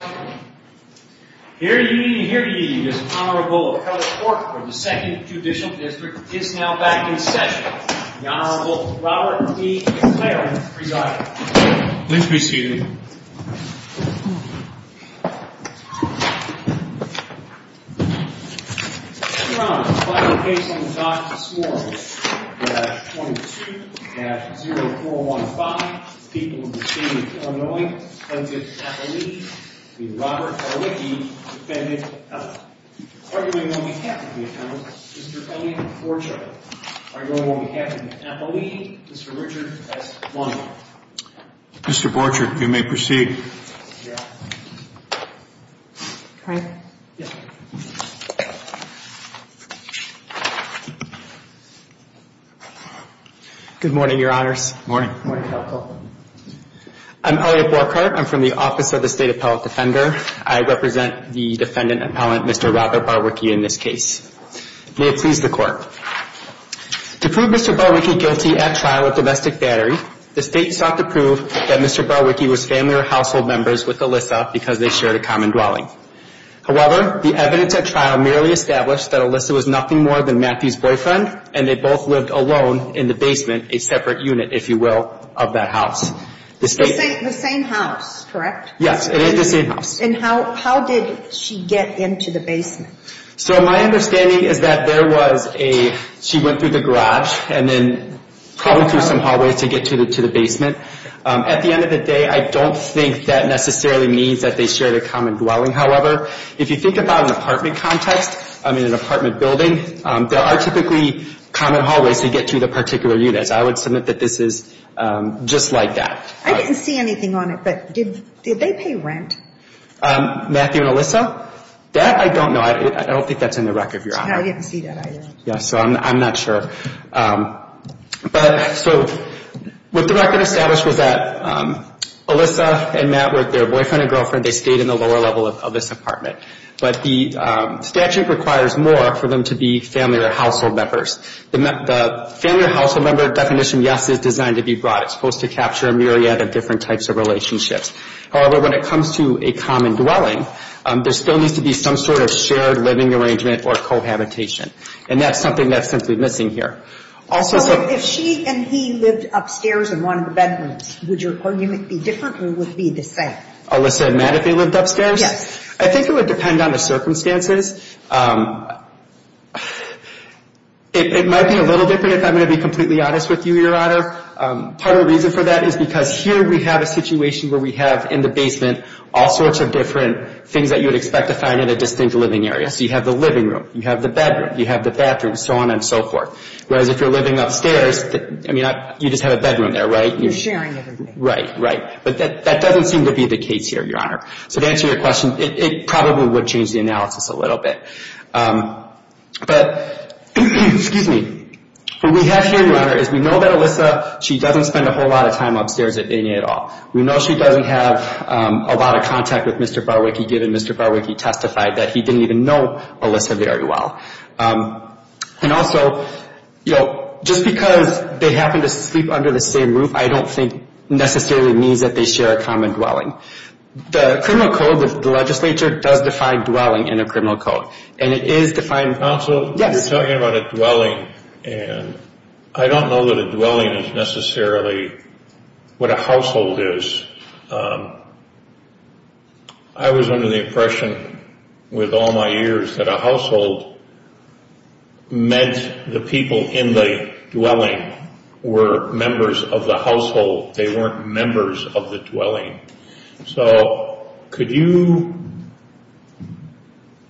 Here ye, here ye, His Honorable Appellate Court for the Second Judicial District is now back in session. The Honorable Robert E. McLaren presiding. Please be seated. Your Honor, the final case on the docket this morning, 22-0415, People of the State of Illinois, defendant Appellee v. Robert Barwicki, defendant Allen. Arguing on behalf of the attorney, Mr. Elliot Borchardt. Arguing on behalf of Appellee, Mr. Richard S. Lundy. Mr. Borchardt, you may proceed. Thank you, Your Honor. Can I? Yes. Good morning, Your Honors. Morning. Morning, Counsel. I'm Elliot Borchardt. I'm from the Office of the State Appellate Defender. I represent the defendant appellant, Mr. Robert Barwicki, in this case. May it please the Court. To prove Mr. Barwicki guilty at trial of domestic battery, the State sought to prove that Mr. Barwicki was family or household members with Alyssa because they shared a common dwelling. However, the evidence at trial merely established that Alyssa was nothing more than Matthew's boyfriend and they both lived alone in the basement, a separate unit, if you will, of that house. The same house, correct? Yes, it is the same house. And how did she get into the basement? So my understanding is that there was a, she went through the garage and then probably through some hallways to get to the basement. At the end of the day, I don't think that necessarily means that they shared a common dwelling. However, if you think about an apartment context, I mean an apartment building, there are typically common hallways to get to the particular units. I would submit that this is just like that. I didn't see anything on it, but did they pay rent? Matthew and Alyssa? That I don't know. I don't think that's in the record, Your Honor. I didn't see that either. So I'm not sure. So what the record established was that Alyssa and Matt were their boyfriend and girlfriend. They stayed in the lower level of this apartment. But the statute requires more for them to be family or household members. The family or household member definition, yes, is designed to be broad. It's supposed to capture a myriad of different types of relationships. However, when it comes to a common dwelling, there still needs to be some sort of shared living arrangement or cohabitation. And that's something that's simply missing here. If she and he lived upstairs in one of the bedrooms, would your argument be different or would it be the same? Alyssa and Matt, if they lived upstairs? Yes. I think it would depend on the circumstances. It might be a little different if I'm going to be completely honest with you, Your Honor. Part of the reason for that is because here we have a situation where we have in the basement all sorts of different things that you would expect to find in a distinct living area. So you have the living room, you have the bedroom, you have the bathroom, so on and so forth. Whereas if you're living upstairs, I mean, you just have a bedroom there, right? You're sharing everything. Right, right. But that doesn't seem to be the case here, Your Honor. So to answer your question, it probably would change the analysis a little bit. But, excuse me, what we have here, Your Honor, is we know that Alyssa, she doesn't spend a whole lot of time upstairs at any at all. We know she doesn't have a lot of contact with Mr. Barwicky, given Mr. Barwicky testified that he didn't even know Alyssa very well. And also, you know, just because they happen to sleep under the same roof, I don't think necessarily means that they share a common dwelling. The criminal code, the legislature does define dwelling in a criminal code. And it is defined. Counsel, you're talking about a dwelling, and I don't know that a dwelling is necessarily what a household is. I was under the impression with all my years that a household meant the people in the dwelling were members of the household. They weren't members of the dwelling. So could you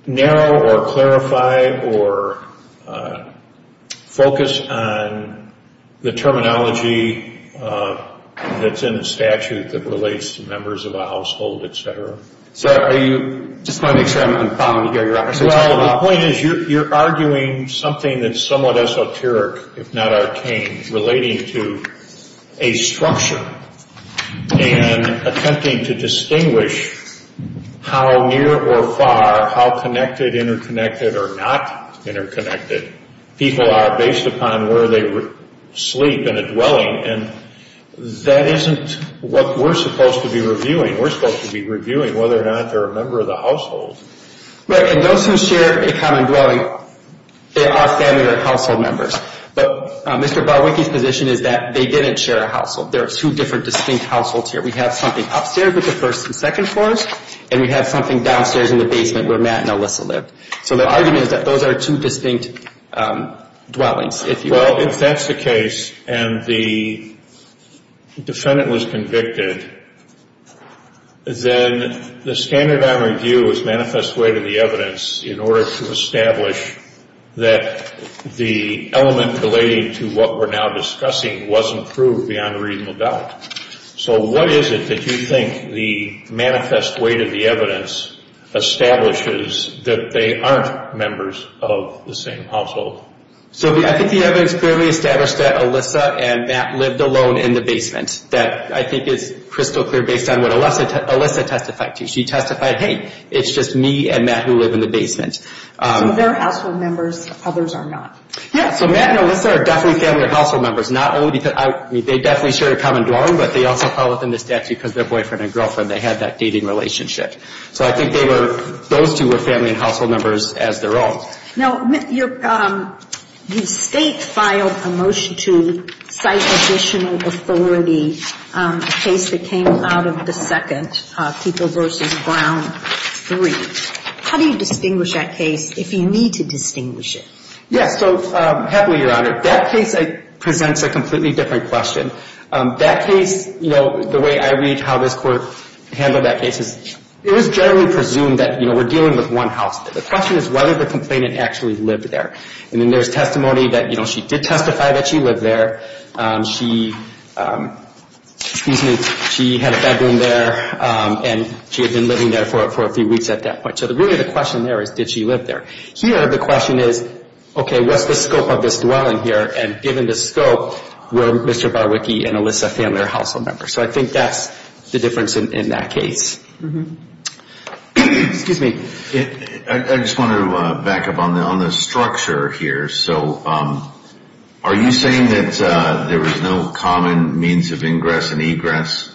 narrow or clarify or focus on the terminology that's in the statute that relates to members of a household, et cetera? Sir, I just want to make sure I'm following you here, Your Honor. Well, the point is you're arguing something that's somewhat esoteric, if not arcane, relating to a structure and attempting to distinguish how near or far, how connected, interconnected, or not interconnected, people are based upon where they sleep in a dwelling. And that isn't what we're supposed to be reviewing. We're supposed to be reviewing whether or not they're a member of the household. Right. And those who share a common dwelling, they are family or household members. But Mr. Barwicky's position is that they didn't share a household. There are two different distinct households here. We have something upstairs with the first and second floors, and we have something downstairs in the basement where Matt and Alyssa lived. So the argument is that those are two distinct dwellings, if you will. Well, if that's the case and the defendant was convicted, then the standard on review is manifest way to the evidence in order to establish that the element relating to what we're now discussing wasn't proved beyond reasonable doubt. So what is it that you think the manifest way to the evidence establishes that they aren't members of the same household? So I think the evidence clearly established that Alyssa and Matt lived alone in the basement. That, I think, is crystal clear based on what Alyssa testified to. She testified, hey, it's just me and Matt who live in the basement. So they're household members. Others are not. Yeah. So Matt and Alyssa are definitely family or household members. Not only because they definitely share a common dwelling, but they also follow within the statute because they're boyfriend and girlfriend. They had that dating relationship. So I think those two were family and household members as their own. Now, you state filed a motion to cite additional authority, a case that came out of the second, Keeper v. Brown III. How do you distinguish that case if you need to distinguish it? Yes. So happily, Your Honor, that case presents a completely different question. That case, you know, the way I read how this Court handled that case is it was generally presumed that, you know, we're dealing with one household. The question is whether the complainant actually lived there. And then there's testimony that, you know, she did testify that she lived there. She had a bedroom there and she had been living there for a few weeks at that point. So really the question there is did she live there? Here the question is, okay, what's the scope of this dwelling here? And given the scope, were Mr. Barwicky and Alyssa family or household members? So I think that's the difference in that case. Excuse me. I just want to back up on the structure here. So are you saying that there was no common means of ingress and egress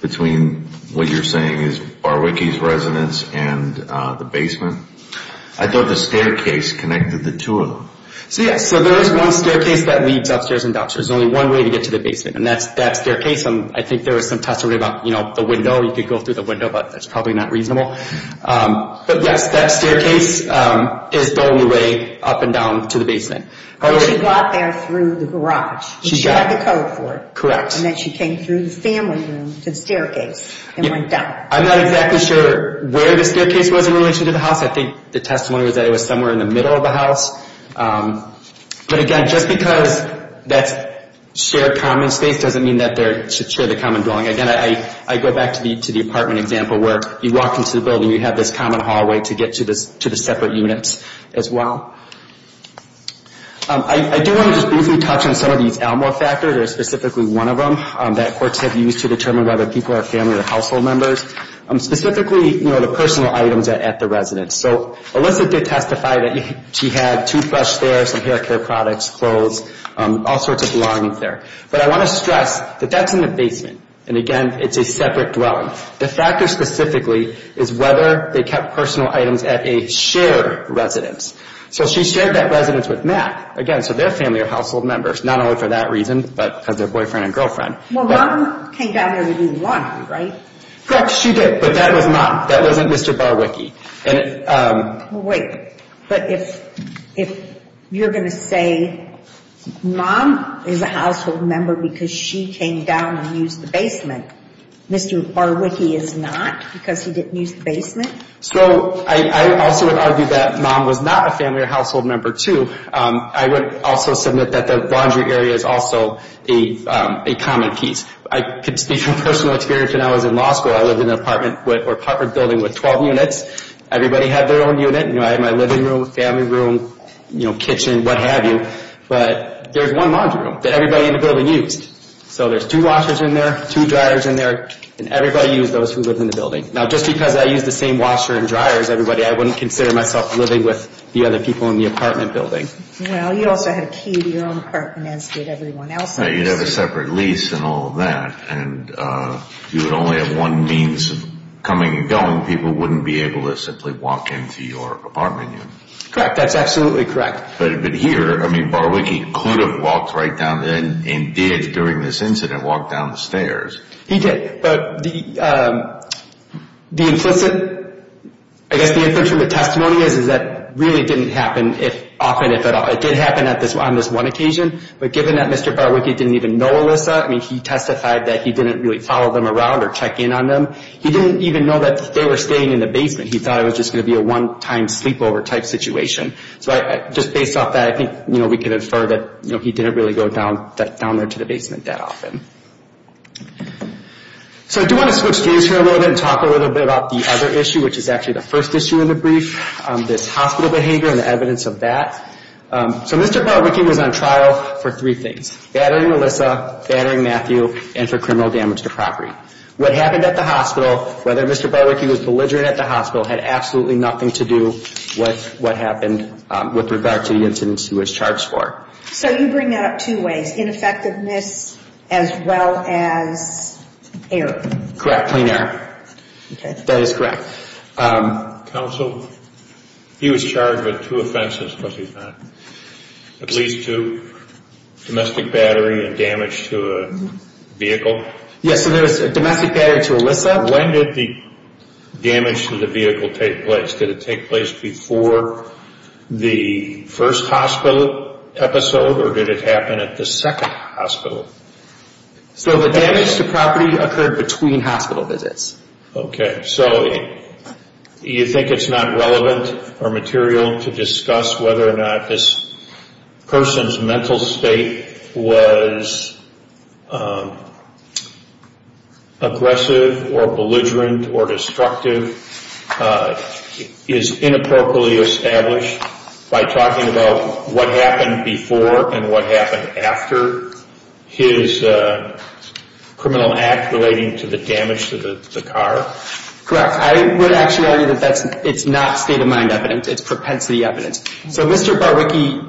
between what you're saying is Barwicky's residence and the basement? I thought the staircase connected the two of them. So, yes, there is one staircase that leads upstairs and down. There's only one way to get to the basement. And that staircase, I think there was some testimony about, you know, the window. You could go through the window, but that's probably not reasonable. But, yes, that staircase is the only way up and down to the basement. But she got there through the garage. She had the code for it. Correct. And then she came through the family room to the staircase and went down. I'm not exactly sure where the staircase was in relation to the house. I think the testimony was that it was somewhere in the middle of the house. But, again, just because that's shared common space doesn't mean that they should share the common dwelling. Again, I go back to the apartment example where you walk into the building, you have this common hallway to get to the separate units as well. I do want to just briefly touch on some of these Alma factors, or specifically one of them that courts have used to determine whether people are family or household members, specifically, you know, the personal items at the residence. So, Alyssa did testify that she had toothbrushes there, some hair care products, clothes, all sorts of belongings there. But I want to stress that that's in the basement. And, again, it's a separate dwelling. The factor specifically is whether they kept personal items at a shared residence. So she shared that residence with Matt. Again, so they're family or household members, not only for that reason, but because they're boyfriend and girlfriend. Well, Mom came down there to do laundry, right? Correct, she did. But that was Mom. That wasn't Mr. Barwicky. Wait, but if you're going to say Mom is a household member because she came down and used the basement, Mr. Barwicky is not because he didn't use the basement? So I also would argue that Mom was not a family or household member, too. I would also submit that the laundry area is also a common piece. I could speak from personal experience when I was in law school. I lived in an apartment building with 12 units. Everybody had their own unit. I had my living room, family room, kitchen, what have you. But there's one laundry room that everybody in the building used. So there's two washers in there, two dryers in there, and everybody used those who lived in the building. Now, just because I used the same washer and dryers, everybody, I wouldn't consider myself living with the other people in the apartment building. Well, you also had a key to your own apartment, as did everyone else's. You'd have a separate lease and all of that, and you would only have one means of coming and going. People wouldn't be able to simply walk into your apartment unit. Correct. That's absolutely correct. But here, I mean, Barwicky could have walked right down there and did, during this incident, walk down the stairs. He did. But the implicit, I guess the inference from the testimony is that really didn't happen often, if at all. It did happen on this one occasion. But given that Mr. Barwicky didn't even know Alyssa, I mean, he testified that he didn't really follow them around or check in on them. He didn't even know that they were staying in the basement. He thought it was just going to be a one-time sleepover type situation. So just based off that, I think we can infer that he didn't really go down there to the basement that often. So I do want to switch gears here a little bit and talk a little bit about the other issue, which is actually the first issue in the brief, this hospital behavior and the evidence of that. So Mr. Barwicky was on trial for three things, battering Alyssa, battering Matthew, and for criminal damage to property. What happened at the hospital, whether Mr. Barwicky was belligerent at the hospital, had absolutely nothing to do with what happened with regard to the incident he was charged for. So you bring that up two ways, ineffectiveness as well as error. Correct, clean error. Okay. That is correct. Counsel, he was charged with two offenses, was he not? At least two, domestic battery and damage to a vehicle. Yes, so there was a domestic battery to Alyssa. When did the damage to the vehicle take place? Did it take place before the first hospital episode or did it happen at the second hospital? So the damage to property occurred between hospital visits. Okay, so you think it's not relevant or material to discuss whether or not this person's mental state was aggressive or belligerent or destructive, is inappropriately established by talking about what happened before and what happened after his criminal act relating to the damage to the car? Correct. I would actually argue that it's not state-of-mind evidence. It's propensity evidence. So Mr. Barwicky,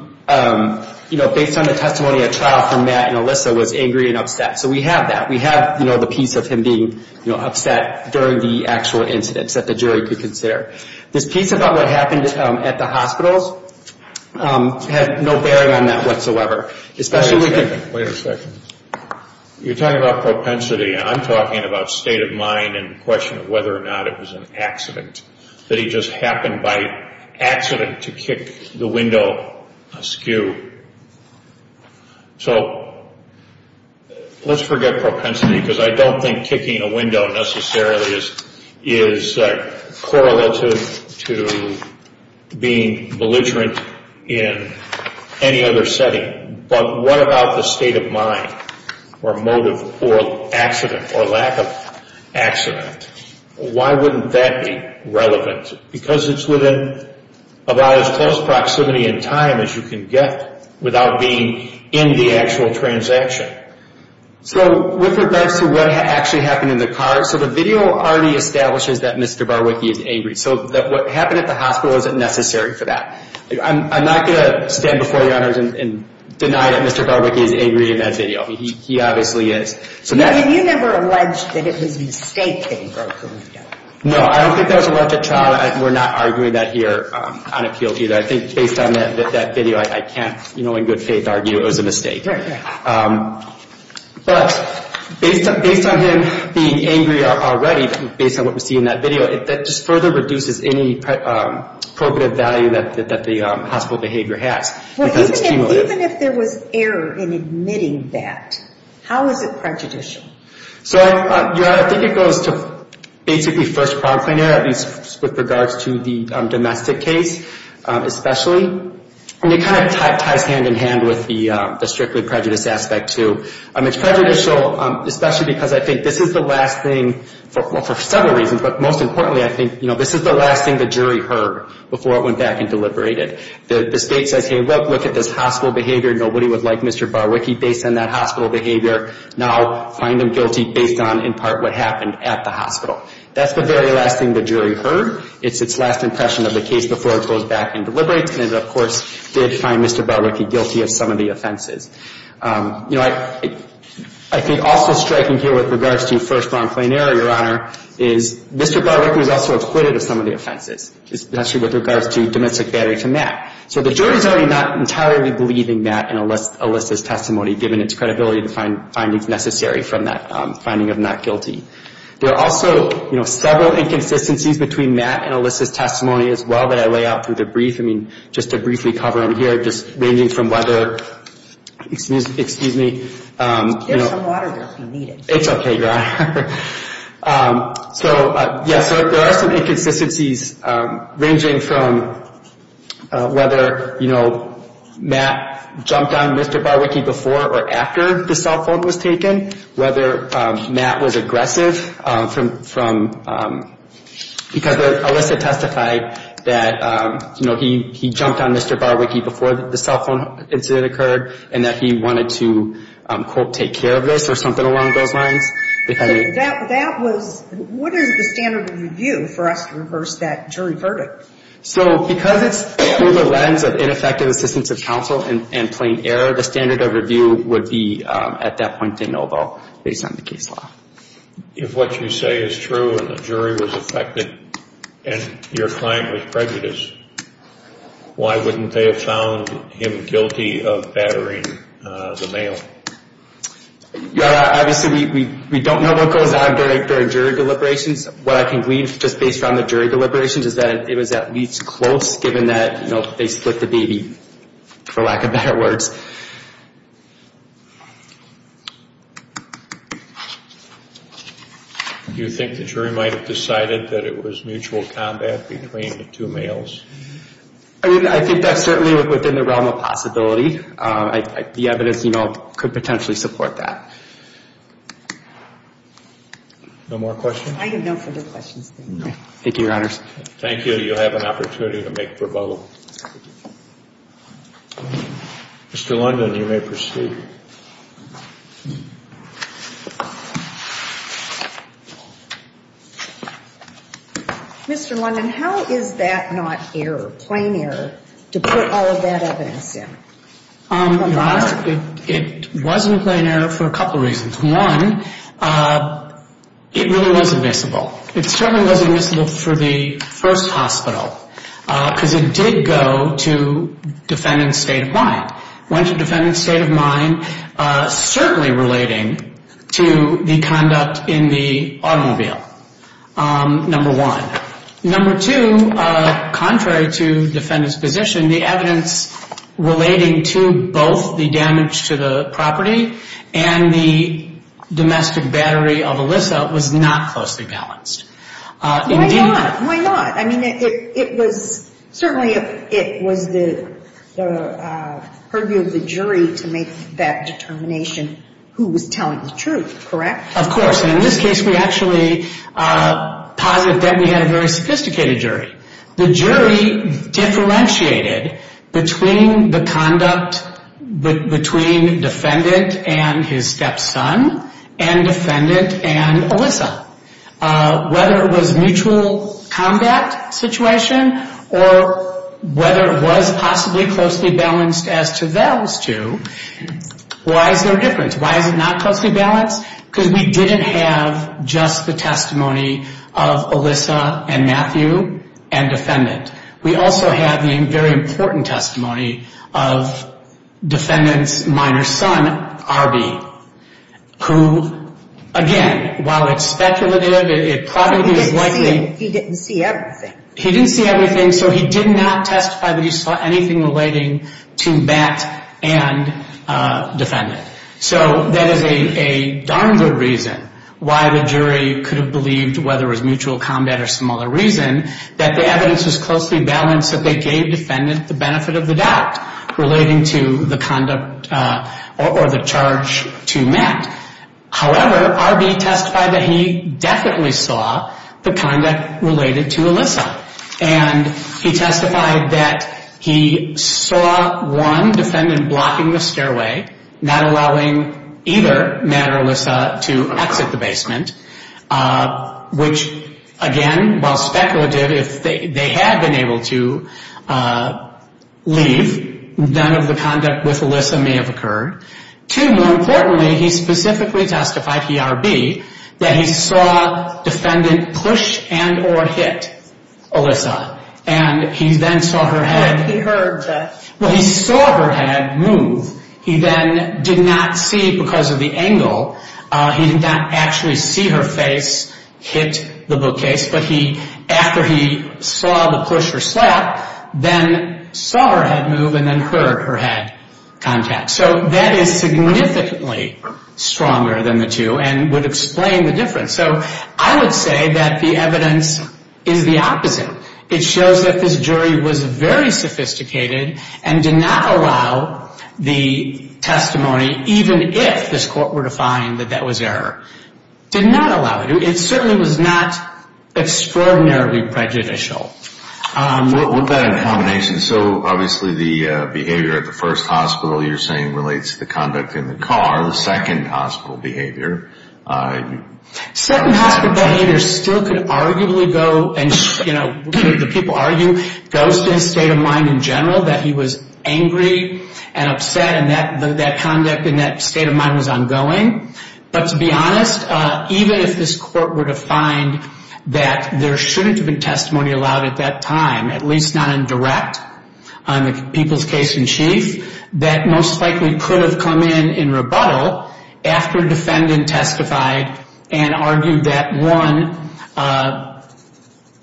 based on the testimony at trial for Matt and Alyssa, was angry and upset. So we have that. We have the piece of him being upset during the actual incident that the jury could consider. This piece about what happened at the hospitals had no bearing on that whatsoever. Wait a second. You're talking about propensity and I'm talking about state of mind and the question of whether or not it was an accident, that he just happened by accident to kick the window askew. So let's forget propensity because I don't think kicking a window necessarily is correlative to being belligerent in any other setting. But what about the state of mind or motive or accident or lack of accident? Why wouldn't that be relevant? Because it's within about as close proximity in time as you can get without being in the actual transaction. So with regards to what actually happened in the car, so the video already establishes that Mr. Barwicky is angry. So what happened at the hospital isn't necessary for that. I'm not going to stand before the honors and deny that Mr. Barwicky is angry in that video. He obviously is. You never alleged that it was a mistake that he broke the window. No, I don't think that was alleged at trial. We're not arguing that here on appeal either. I think based on that video, I can't in good faith argue it was a mistake. But based on him being angry already, based on what we see in that video, that just further reduces any probative value that the hospital behavior has. Even if there was error in admitting that, how is it prejudicial? So I think it goes to basically first primary, at least with regards to the domestic case especially. It kind of ties hand in hand with the strictly prejudiced aspect too. It's prejudicial, especially because I think this is the last thing, for several reasons, but most importantly, I think this is the last thing the jury heard before it went back and deliberated. The state says, hey, look at this hospital behavior. Nobody would like Mr. Barwicky based on that hospital behavior. Now find him guilty based on, in part, what happened at the hospital. That's the very last thing the jury heard. It's its last impression of the case before it goes back and deliberates. And it, of course, did find Mr. Barwicky guilty of some of the offenses. You know, I think also striking here with regards to first round plain error, Your Honor, is Mr. Barwicky was also acquitted of some of the offenses, especially with regards to domestic battery to Matt. So the jury's already not entirely believing that in Alyssa's testimony, given its credibility to find findings necessary from that finding of not guilty. There are also, you know, several inconsistencies between Matt and Alyssa's testimony as well that I lay out through the brief, I mean, just to briefly cover them here, just ranging from whether, excuse me, you know. There's some water there if you need it. It's okay, Your Honor. So, yes, there are some inconsistencies ranging from whether, you know, Matt jumped on Mr. Barwicky before or after the cell phone was taken, whether Matt was aggressive from, because Alyssa testified that, you know, he jumped on Mr. Barwicky before the cell phone incident occurred and that he wanted to, quote, take care of this or something along those lines. That was, what is the standard of review for us to reverse that jury verdict? So because it's through the lens of ineffective assistance of counsel and plain error, the standard of review would be, at that point, a no vote based on the case law. If what you say is true and the jury was affected and your client was prejudiced, why wouldn't they have found him guilty of battering the male? Your Honor, obviously we don't know what goes on during jury deliberations. What I can glean just based on the jury deliberations is that it was at least close, given that, you know, they split the baby, for lack of better words. Do you think the jury might have decided that it was mutual combat between the two males? I think that's certainly within the realm of possibility. The evidence, you know, could potentially support that. No more questions? Thank you, Your Honors. Thank you. You have an opportunity to make rebuttal. Mr. London, you may proceed. Mr. London, how is that not error, plain error, to put all of that evidence in? Your Honor, it wasn't plain error for a couple of reasons. One, it really was admissible. It certainly was admissible for the first hospital because it did go to defendant's state of mind. It went to defendant's state of mind, certainly relating to the conduct in the automobile, number one. Number two, contrary to defendant's position, the evidence relating to both the damage to the property and the domestic battery of Alyssa was not closely balanced. Why not? Why not? I mean, it was certainly it was the purview of the jury to make that determination who was telling the truth, correct? Of course. And in this case, we actually posit that we had a very sophisticated jury. The jury differentiated between the conduct between defendant and his stepson and defendant and Alyssa. Whether it was mutual combat situation or whether it was possibly closely balanced as to those two, why is there a difference? Why is it not closely balanced? Because we didn't have just the testimony of Alyssa and Matthew and defendant. We also have the very important testimony of defendant's minor son, Arby, who, again, while it's speculative, it probably is likely. He didn't see everything. He didn't see everything, so he did not testify that he saw anything relating to Matt and defendant. So that is a darn good reason why the jury could have believed, whether it was mutual combat or some other reason, that the evidence was closely balanced that they gave defendant the benefit of the doubt relating to the conduct or the charge to Matt. However, Arby testified that he definitely saw the conduct related to Alyssa. And he testified that he saw, one, defendant blocking the stairway, not allowing either Matt or Alyssa to exit the basement, which, again, while speculative, if they had been able to leave, none of the conduct with Alyssa may have occurred. Two, more importantly, he specifically testified, he, Arby, that he saw defendant push and or hit Alyssa. And he then saw her head. He heard that. Well, he saw her head move. He then did not see because of the angle. He did not actually see her face hit the bookcase. But he, after he saw the push or slap, then saw her head move and then heard her head contact. So that is significantly stronger than the two and would explain the difference. So I would say that the evidence is the opposite. It shows that this jury was very sophisticated and did not allow the testimony, even if this court were to find that that was error. Did not allow it. It certainly was not extraordinarily prejudicial. What about in combination? So obviously the behavior at the first hospital you're saying relates to the conduct in the car. The second hospital behavior. Second hospital behavior still could arguably go and, you know, the people argue, goes to his state of mind in general that he was angry and upset and that conduct in that state of mind was ongoing. But to be honest, even if this court were to find that there shouldn't have been testimony allowed at that time, at least not in direct on the people's case in chief, that most likely could have come in in rebuttal after defendant testified and argued that one,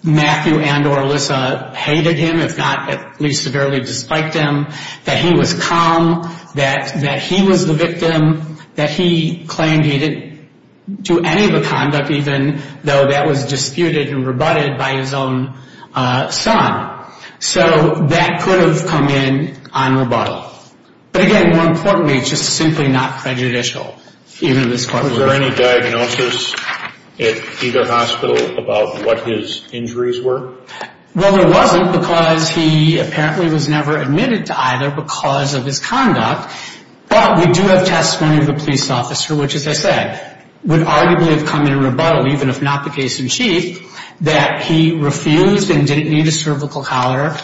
Matthew and or Alyssa hated him, if not at least severely disliked him, that he was calm, that he was the victim, that he claimed he didn't do any of the conduct, even though that was disputed and rebutted by his own son. So that could have come in on rebuttal. But again, more importantly, it's just simply not prejudicial, even if this court were to find that. Was there any diagnosis at either hospital about what his injuries were? Well, there wasn't because he apparently was never admitted to either because of his conduct. But we do have testimony of a police officer, which, as I said, would arguably have come in rebuttal, even if not the case in chief, that he refused and didn't need a cervical collar,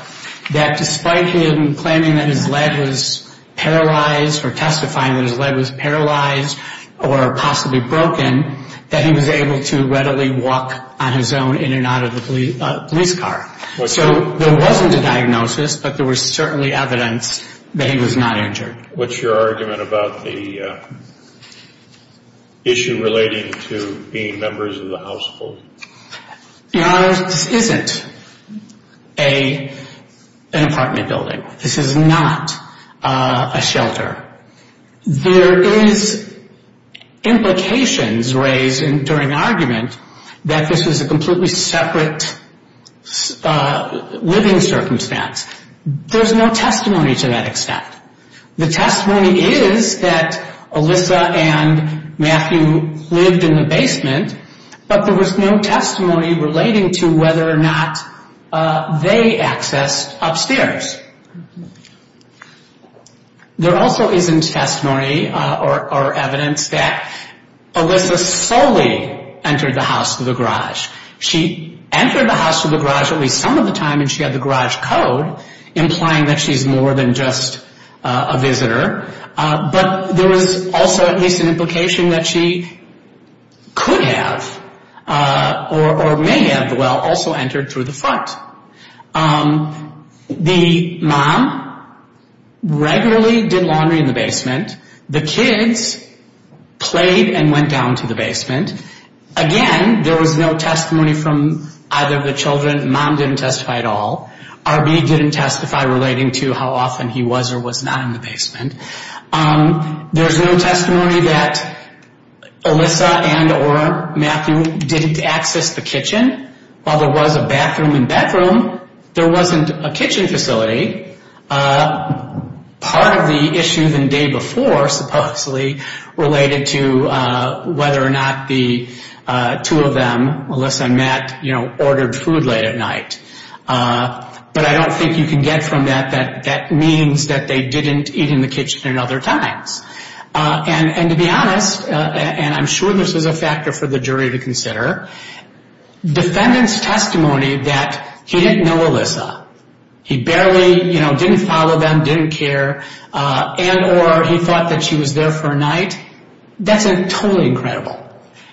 that despite him claiming that his leg was paralyzed or testifying that his leg was paralyzed or possibly broken, that he was able to readily walk on his own in and out of the police car. So there wasn't a diagnosis, but there was certainly evidence that he was not injured. What's your argument about the issue relating to being members of the household? Your Honor, this isn't an apartment building. This is not a shelter. There is implications raised during argument that this was a completely separate living circumstance. There's no testimony to that extent. The testimony is that Alyssa and Matthew lived in the basement, but there was no testimony relating to whether or not they accessed upstairs. There also isn't testimony or evidence that Alyssa solely entered the house through the garage. She entered the house through the garage at least some of the time, and she had the garage code implying that she's more than just a visitor. But there was also at least an implication that she could have or may have, well, also entered through the front. The mom regularly did laundry in the basement. The kids played and went down to the basement. Again, there was no testimony from either of the children. Mom didn't testify at all. R.B. didn't testify relating to how often he was or was not in the basement. There's no testimony that Alyssa and or Matthew didn't access the kitchen. And while there was a bathroom and bedroom, there wasn't a kitchen facility. Part of the issue the day before supposedly related to whether or not the two of them, Alyssa and Matt, you know, ordered food late at night. But I don't think you can get from that that that means that they didn't eat in the kitchen at other times. And to be honest, and I'm sure this was a factor for the jury to consider, defendant's testimony that he didn't know Alyssa, he barely, you know, didn't follow them, didn't care, and or he thought that she was there for a night, that's totally incredible.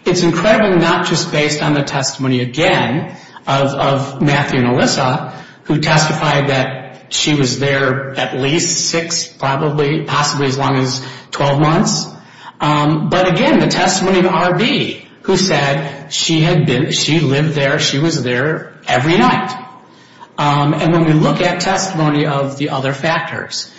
It's incredible not just based on the testimony, again, of Matthew and Alyssa, who testified that she was there at least six, possibly as long as 12 months. But again, the testimony of R.B., who said she had been, she lived there, she was there every night. And when we look at testimony of the other factors,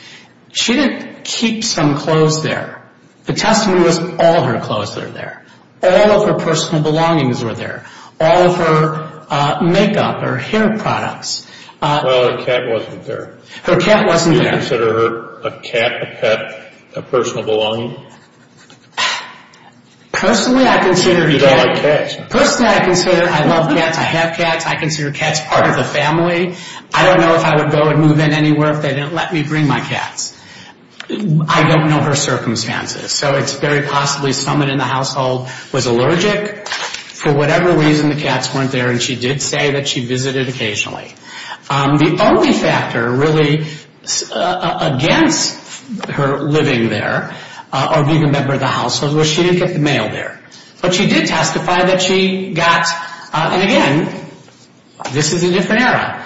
she didn't keep some clothes there. The testimony was all her clothes were there. All of her personal belongings were there. All of her makeup, her hair products. Well, her cat wasn't there. Her cat wasn't there. Do you consider her a cat, a pet, a personal belonging? Personally, I consider her a cat. Because I like cats. Personally, I consider, I love cats, I have cats, I consider cats part of the family. I don't know if I would go and move in anywhere if they didn't let me bring my cats. I don't know her circumstances. So it's very possibly someone in the household was allergic. For whatever reason, the cats weren't there. And she did say that she visited occasionally. The only factor really against her living there, or being a member of the household, was she didn't get the mail there. But she did testify that she got, and again, this is a different era.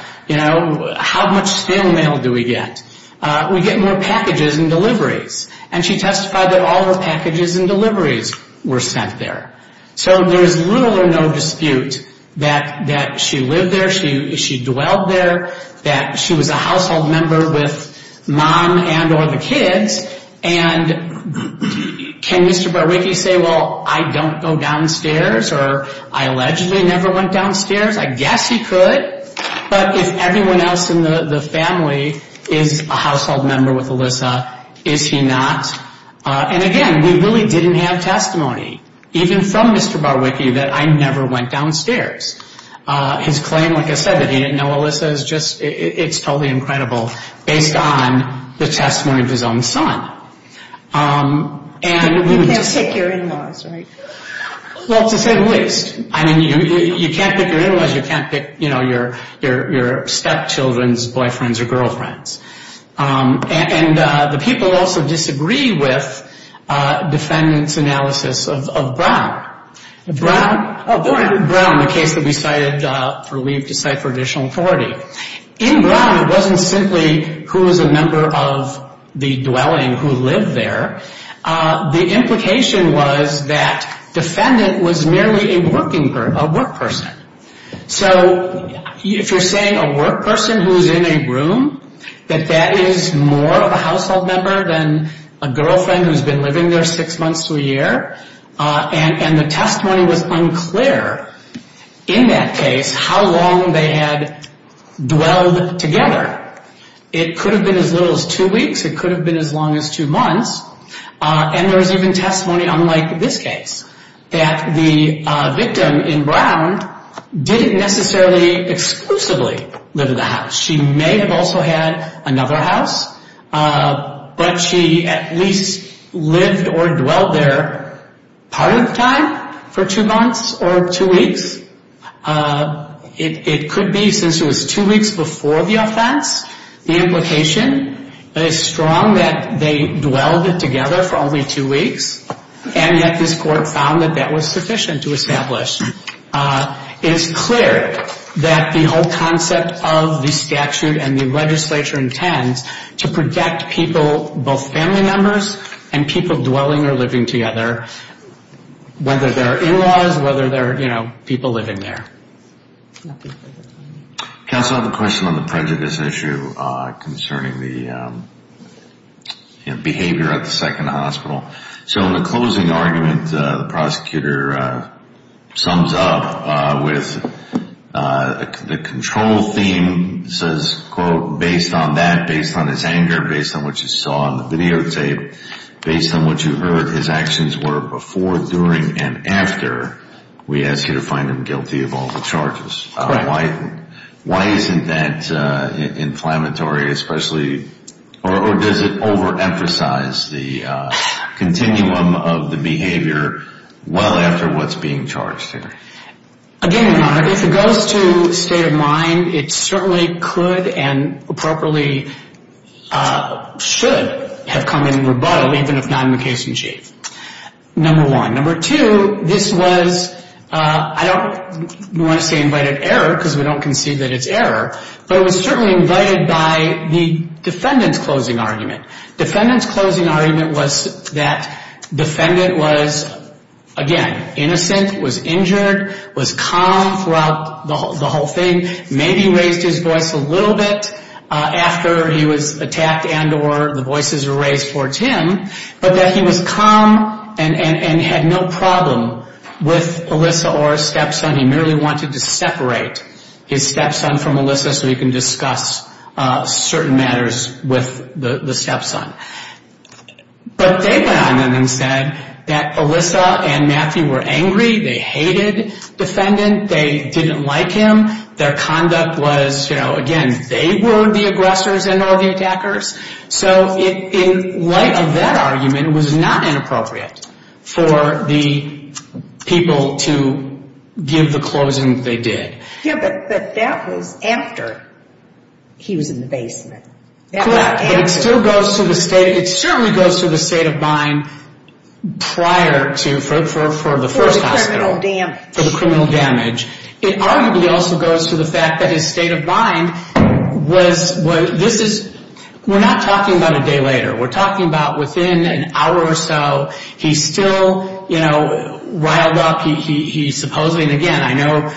How much stale mail do we get? We get more packages and deliveries. And she testified that all her packages and deliveries were sent there. So there's little or no dispute that she lived there, she dwelled there, that she was a household member with mom and or the kids. And can Mr. Barwicky say, well, I don't go downstairs, or I allegedly never went downstairs? I guess he could. But if everyone else in the family is a household member with Alyssa, is he not? And again, we really didn't have testimony, even from Mr. Barwicky, that I never went downstairs. His claim, like I said, that he didn't know Alyssa, it's totally incredible based on the testimony of his own son. You can't pick your in-laws, right? Well, to say the least. I mean, you can't pick your in-laws, you can't pick your stepchildren's boyfriends or girlfriends. And the people also disagree with defendants' analysis of Brown. Brown, the case that we cited for leave to cite for additional authority. In Brown, it wasn't simply who was a member of the dwelling who lived there. The implication was that defendant was merely a working person, a work person. So if you're saying a work person who's in a room, that that is more of a household member than a girlfriend who's been living there six months to a year. And the testimony was unclear in that case how long they had dwelled together. It could have been as little as two weeks. It could have been as long as two months. And there was even testimony, unlike this case, that the victim in Brown didn't necessarily exclusively live in the house. She may have also had another house, but she at least lived or dwelled there part of the time for two months or two weeks. It could be since it was two weeks before the offense, the implication is strong that they dwelled together for only two weeks. And yet this court found that that was sufficient to establish. It's clear that the whole concept of the statute and the legislature intends to protect people, both family members and people dwelling or living together, whether they're in-laws, whether they're, you know, people living there. Counsel, I have a question on the prejudice issue concerning the behavior at the second hospital. So in the closing argument, the prosecutor sums up with the control theme says, quote, based on that, based on his anger, based on what you saw on the videotape, based on what you heard, his actions were before, during, and after. We ask you to find him guilty of all the charges. Why isn't that inflammatory, especially, or does it overemphasize the continuum of the behavior well after what's being charged here? Again, Your Honor, if it goes to state of mind, it certainly could and appropriately should have come in rebuttal, even if not in the case in chief, number one. Number two, this was, I don't want to say invited error because we don't concede that it's error, but it was certainly invited by the defendant's closing argument. Defendant's closing argument was that defendant was, again, innocent, was injured, was calm throughout the whole thing, maybe raised his voice a little bit after he was attacked and or the voices were raised for Tim, but that he was calm and had no problem with Alyssa or his stepson. He merely wanted to separate his stepson from Alyssa so he can discuss certain matters with the stepson. But they went on then and said that Alyssa and Matthew were angry. They hated defendant. They didn't like him. Their conduct was, you know, again, they were the aggressors and not the attackers. So in light of that argument, it was not inappropriate for the people to give the closing they did. Yeah, but that was after he was in the basement. Correct, but it still goes to the state. It certainly goes to the state of mind prior to, for the first hospital. For the criminal damage. For the criminal damage. It arguably also goes to the fact that his state of mind was, this is, we're not talking about a day later. We're talking about within an hour or so. He still, you know, riled up. He supposedly, and again, I know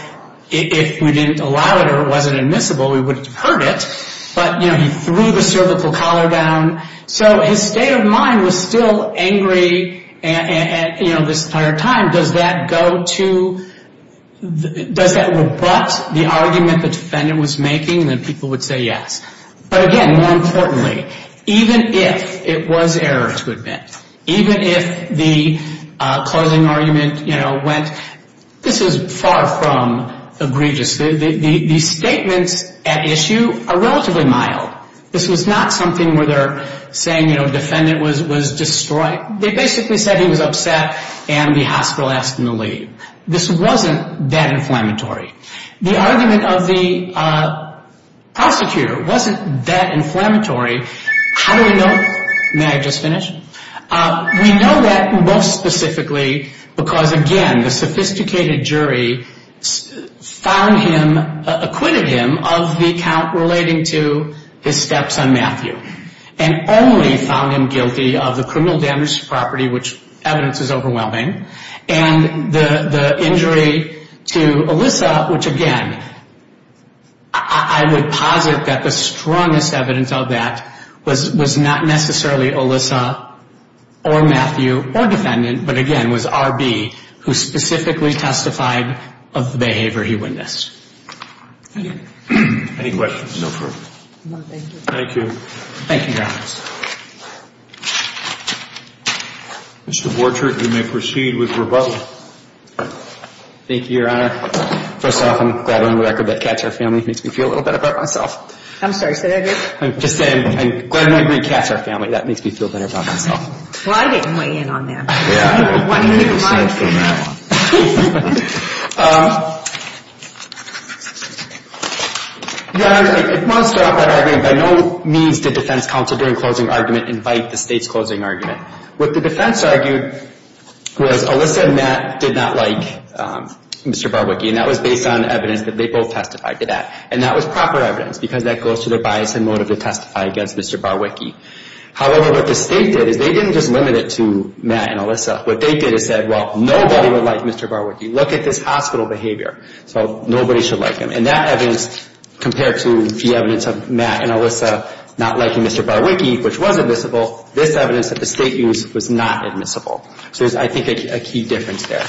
if we didn't allow it or it wasn't admissible, we wouldn't have heard it. But, you know, he threw the cervical collar down. So his state of mind was still angry, you know, this entire time. Does that go to, does that rebut the argument the defendant was making? Then people would say yes. But again, more importantly, even if it was error to admit, even if the closing argument, you know, went. This is far from egregious. These statements at issue are relatively mild. This was not something where they're saying, you know, defendant was destroyed. They basically said he was upset and the hospital asked him to leave. This wasn't that inflammatory. The argument of the prosecutor wasn't that inflammatory. How do we know? May I just finish? We know that most specifically because, again, the sophisticated jury found him, acquitted him of the count relating to his steps on Matthew. And only found him guilty of the criminal damage to property, which evidence is overwhelming. And the injury to Alyssa, which, again, I would posit that the strongest evidence of that was not necessarily Alyssa or Matthew or defendant. But, again, was R.B. who specifically testified of the behavior he witnessed. Any questions? No further. Thank you. Thank you. Thank you, Your Honor. Mr. Borchardt, you may proceed with rebuttal. Thank you, Your Honor. First off, I'm glad we're on the record that cats are family. Makes me feel a little better about myself. I'm sorry, say that again. I'm just glad we're on the record that cats are family. That makes me feel better about myself. Well, I didn't weigh in on that. Yeah. I wanted you to provide for me. Your Honor, I want to start off by arguing by no means did defense counsel during closing argument invite the state's closing argument. What the defense argued was Alyssa and Matt did not like Mr. Barwicky. And that was based on evidence that they both testified to that. And that was proper evidence because that goes to their bias and motive to testify against Mr. Barwicky. However, what the state did is they didn't just limit it to Matt and Alyssa. What they did is said, well, nobody would like Mr. Barwicky. Look at this hospital behavior. So nobody should like him. And that evidence compared to the evidence of Matt and Alyssa not liking Mr. Barwicky, which was admissible, this evidence that the state used was not admissible. So there's, I think, a key difference there.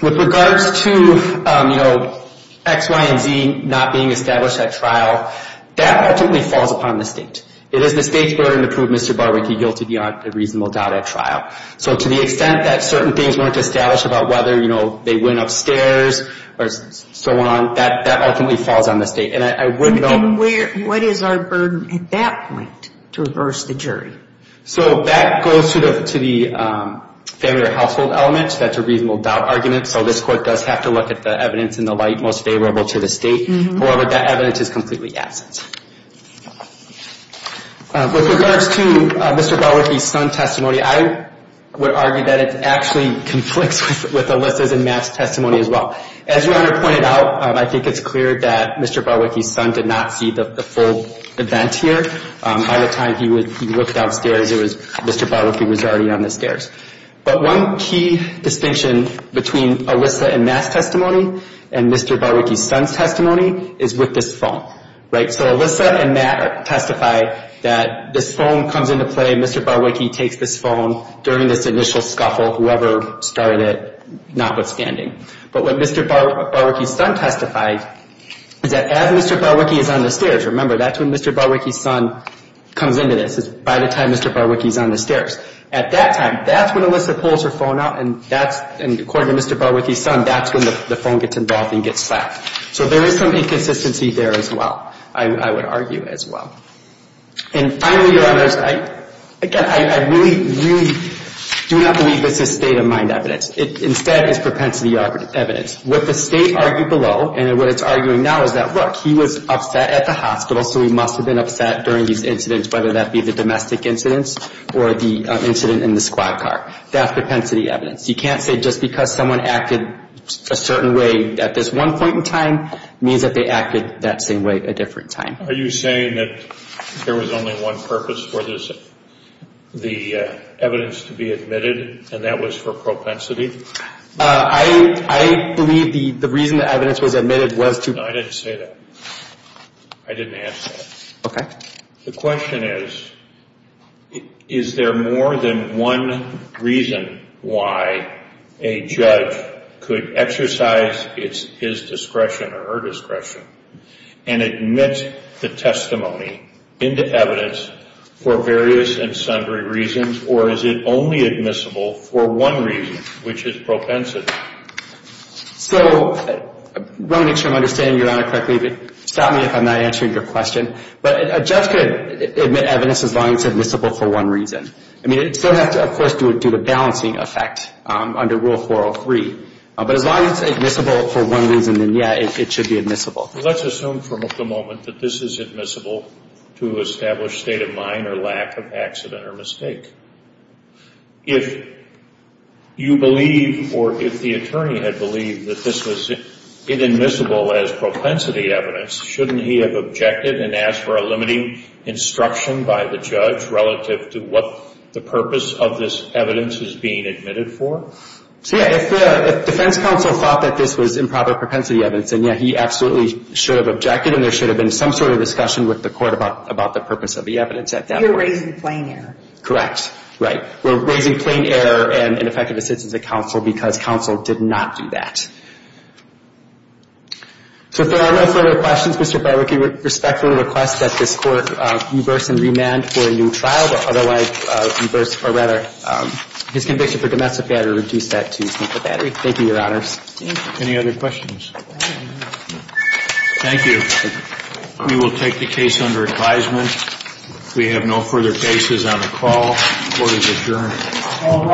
With regards to, you know, X, Y, and Z not being established at trial, that ultimately falls upon the state. It is the state's burden to prove Mr. Barwicky guilty beyond a reasonable doubt at trial. So to the extent that certain things weren't established about whether, you know, they went upstairs or so on, that ultimately falls on the state. And I wouldn't know. And what is our burden at that point to reverse the jury? So that goes to the family or household element. That's a reasonable doubt argument. So this court does have to look at the evidence in the light most favorable to the state. However, that evidence is completely absent. With regards to Mr. Barwicky's son testimony, I would argue that it actually conflicts with Alyssa's and Matt's testimony as well. As your Honor pointed out, I think it's clear that Mr. Barwicky's son did not see the full event here. By the time he looked downstairs, Mr. Barwicky was already on the stairs. But one key distinction between Alyssa and Matt's testimony and Mr. Barwicky's son's testimony is with this phone. Right? So Alyssa and Matt testify that this phone comes into play. Mr. Barwicky takes this phone during this initial scuffle, whoever started it notwithstanding. But what Mr. Barwicky's son testified is that as Mr. Barwicky is on the stairs, remember that's when Mr. Barwicky's son comes into this, is by the time Mr. Barwicky is on the stairs. At that time, that's when Alyssa pulls her phone out, and according to Mr. Barwicky's son, that's when the phone gets involved and gets slapped. So there is some inconsistency there as well, I would argue as well. And finally, Your Honors, again, I really, really do not believe this is state-of-mind evidence. Instead, it's propensity evidence. What the state argued below and what it's arguing now is that, look, he was upset at the hospital, so he must have been upset during these incidents, whether that be the domestic incidents or the incident in the squad car. That's propensity evidence. You can't say just because someone acted a certain way at this one point in time means that they acted that same way a different time. Are you saying that there was only one purpose for this, the evidence to be admitted, and that was for propensity? I believe the reason the evidence was admitted was to – No, I didn't say that. I didn't answer that. Okay. The question is, is there more than one reason why a judge could exercise his discretion or her discretion and admit the testimony into evidence for various and sundry reasons, or is it only admissible for one reason, which is propensity? So I want to make sure I'm understanding Your Honor correctly. Stop me if I'm not answering your question. But a judge could admit evidence as long as it's admissible for one reason. I mean, it still has to, of course, do the balancing effect under Rule 403. But as long as it's admissible for one reason, then, yeah, it should be admissible. Let's assume for the moment that this is admissible to establish state of mind or lack of accident or mistake. If you believe or if the attorney had believed that this was admissible as propensity evidence, shouldn't he have objected and asked for a limiting instruction by the judge relative to what the purpose of this evidence is being admitted for? So, yeah, if the defense counsel thought that this was improper propensity evidence, then, yeah, he absolutely should have objected, and there should have been some sort of discussion with the court about the purpose of the evidence at that point. You're raising plain error. Correct. Right. We're raising plain error and ineffective assistance at counsel because counsel did not do that. So if there are no further questions, Mr. Berwick, we respectfully request that this court reverse and remand for a new trial, but otherwise reverse or rather his conviction for domestic battery, reduce that to a battery. Thank you, Your Honors. Thank you. Any other questions? Thank you. We will take the case under advisement. We have no further cases on the call. Court is adjourned.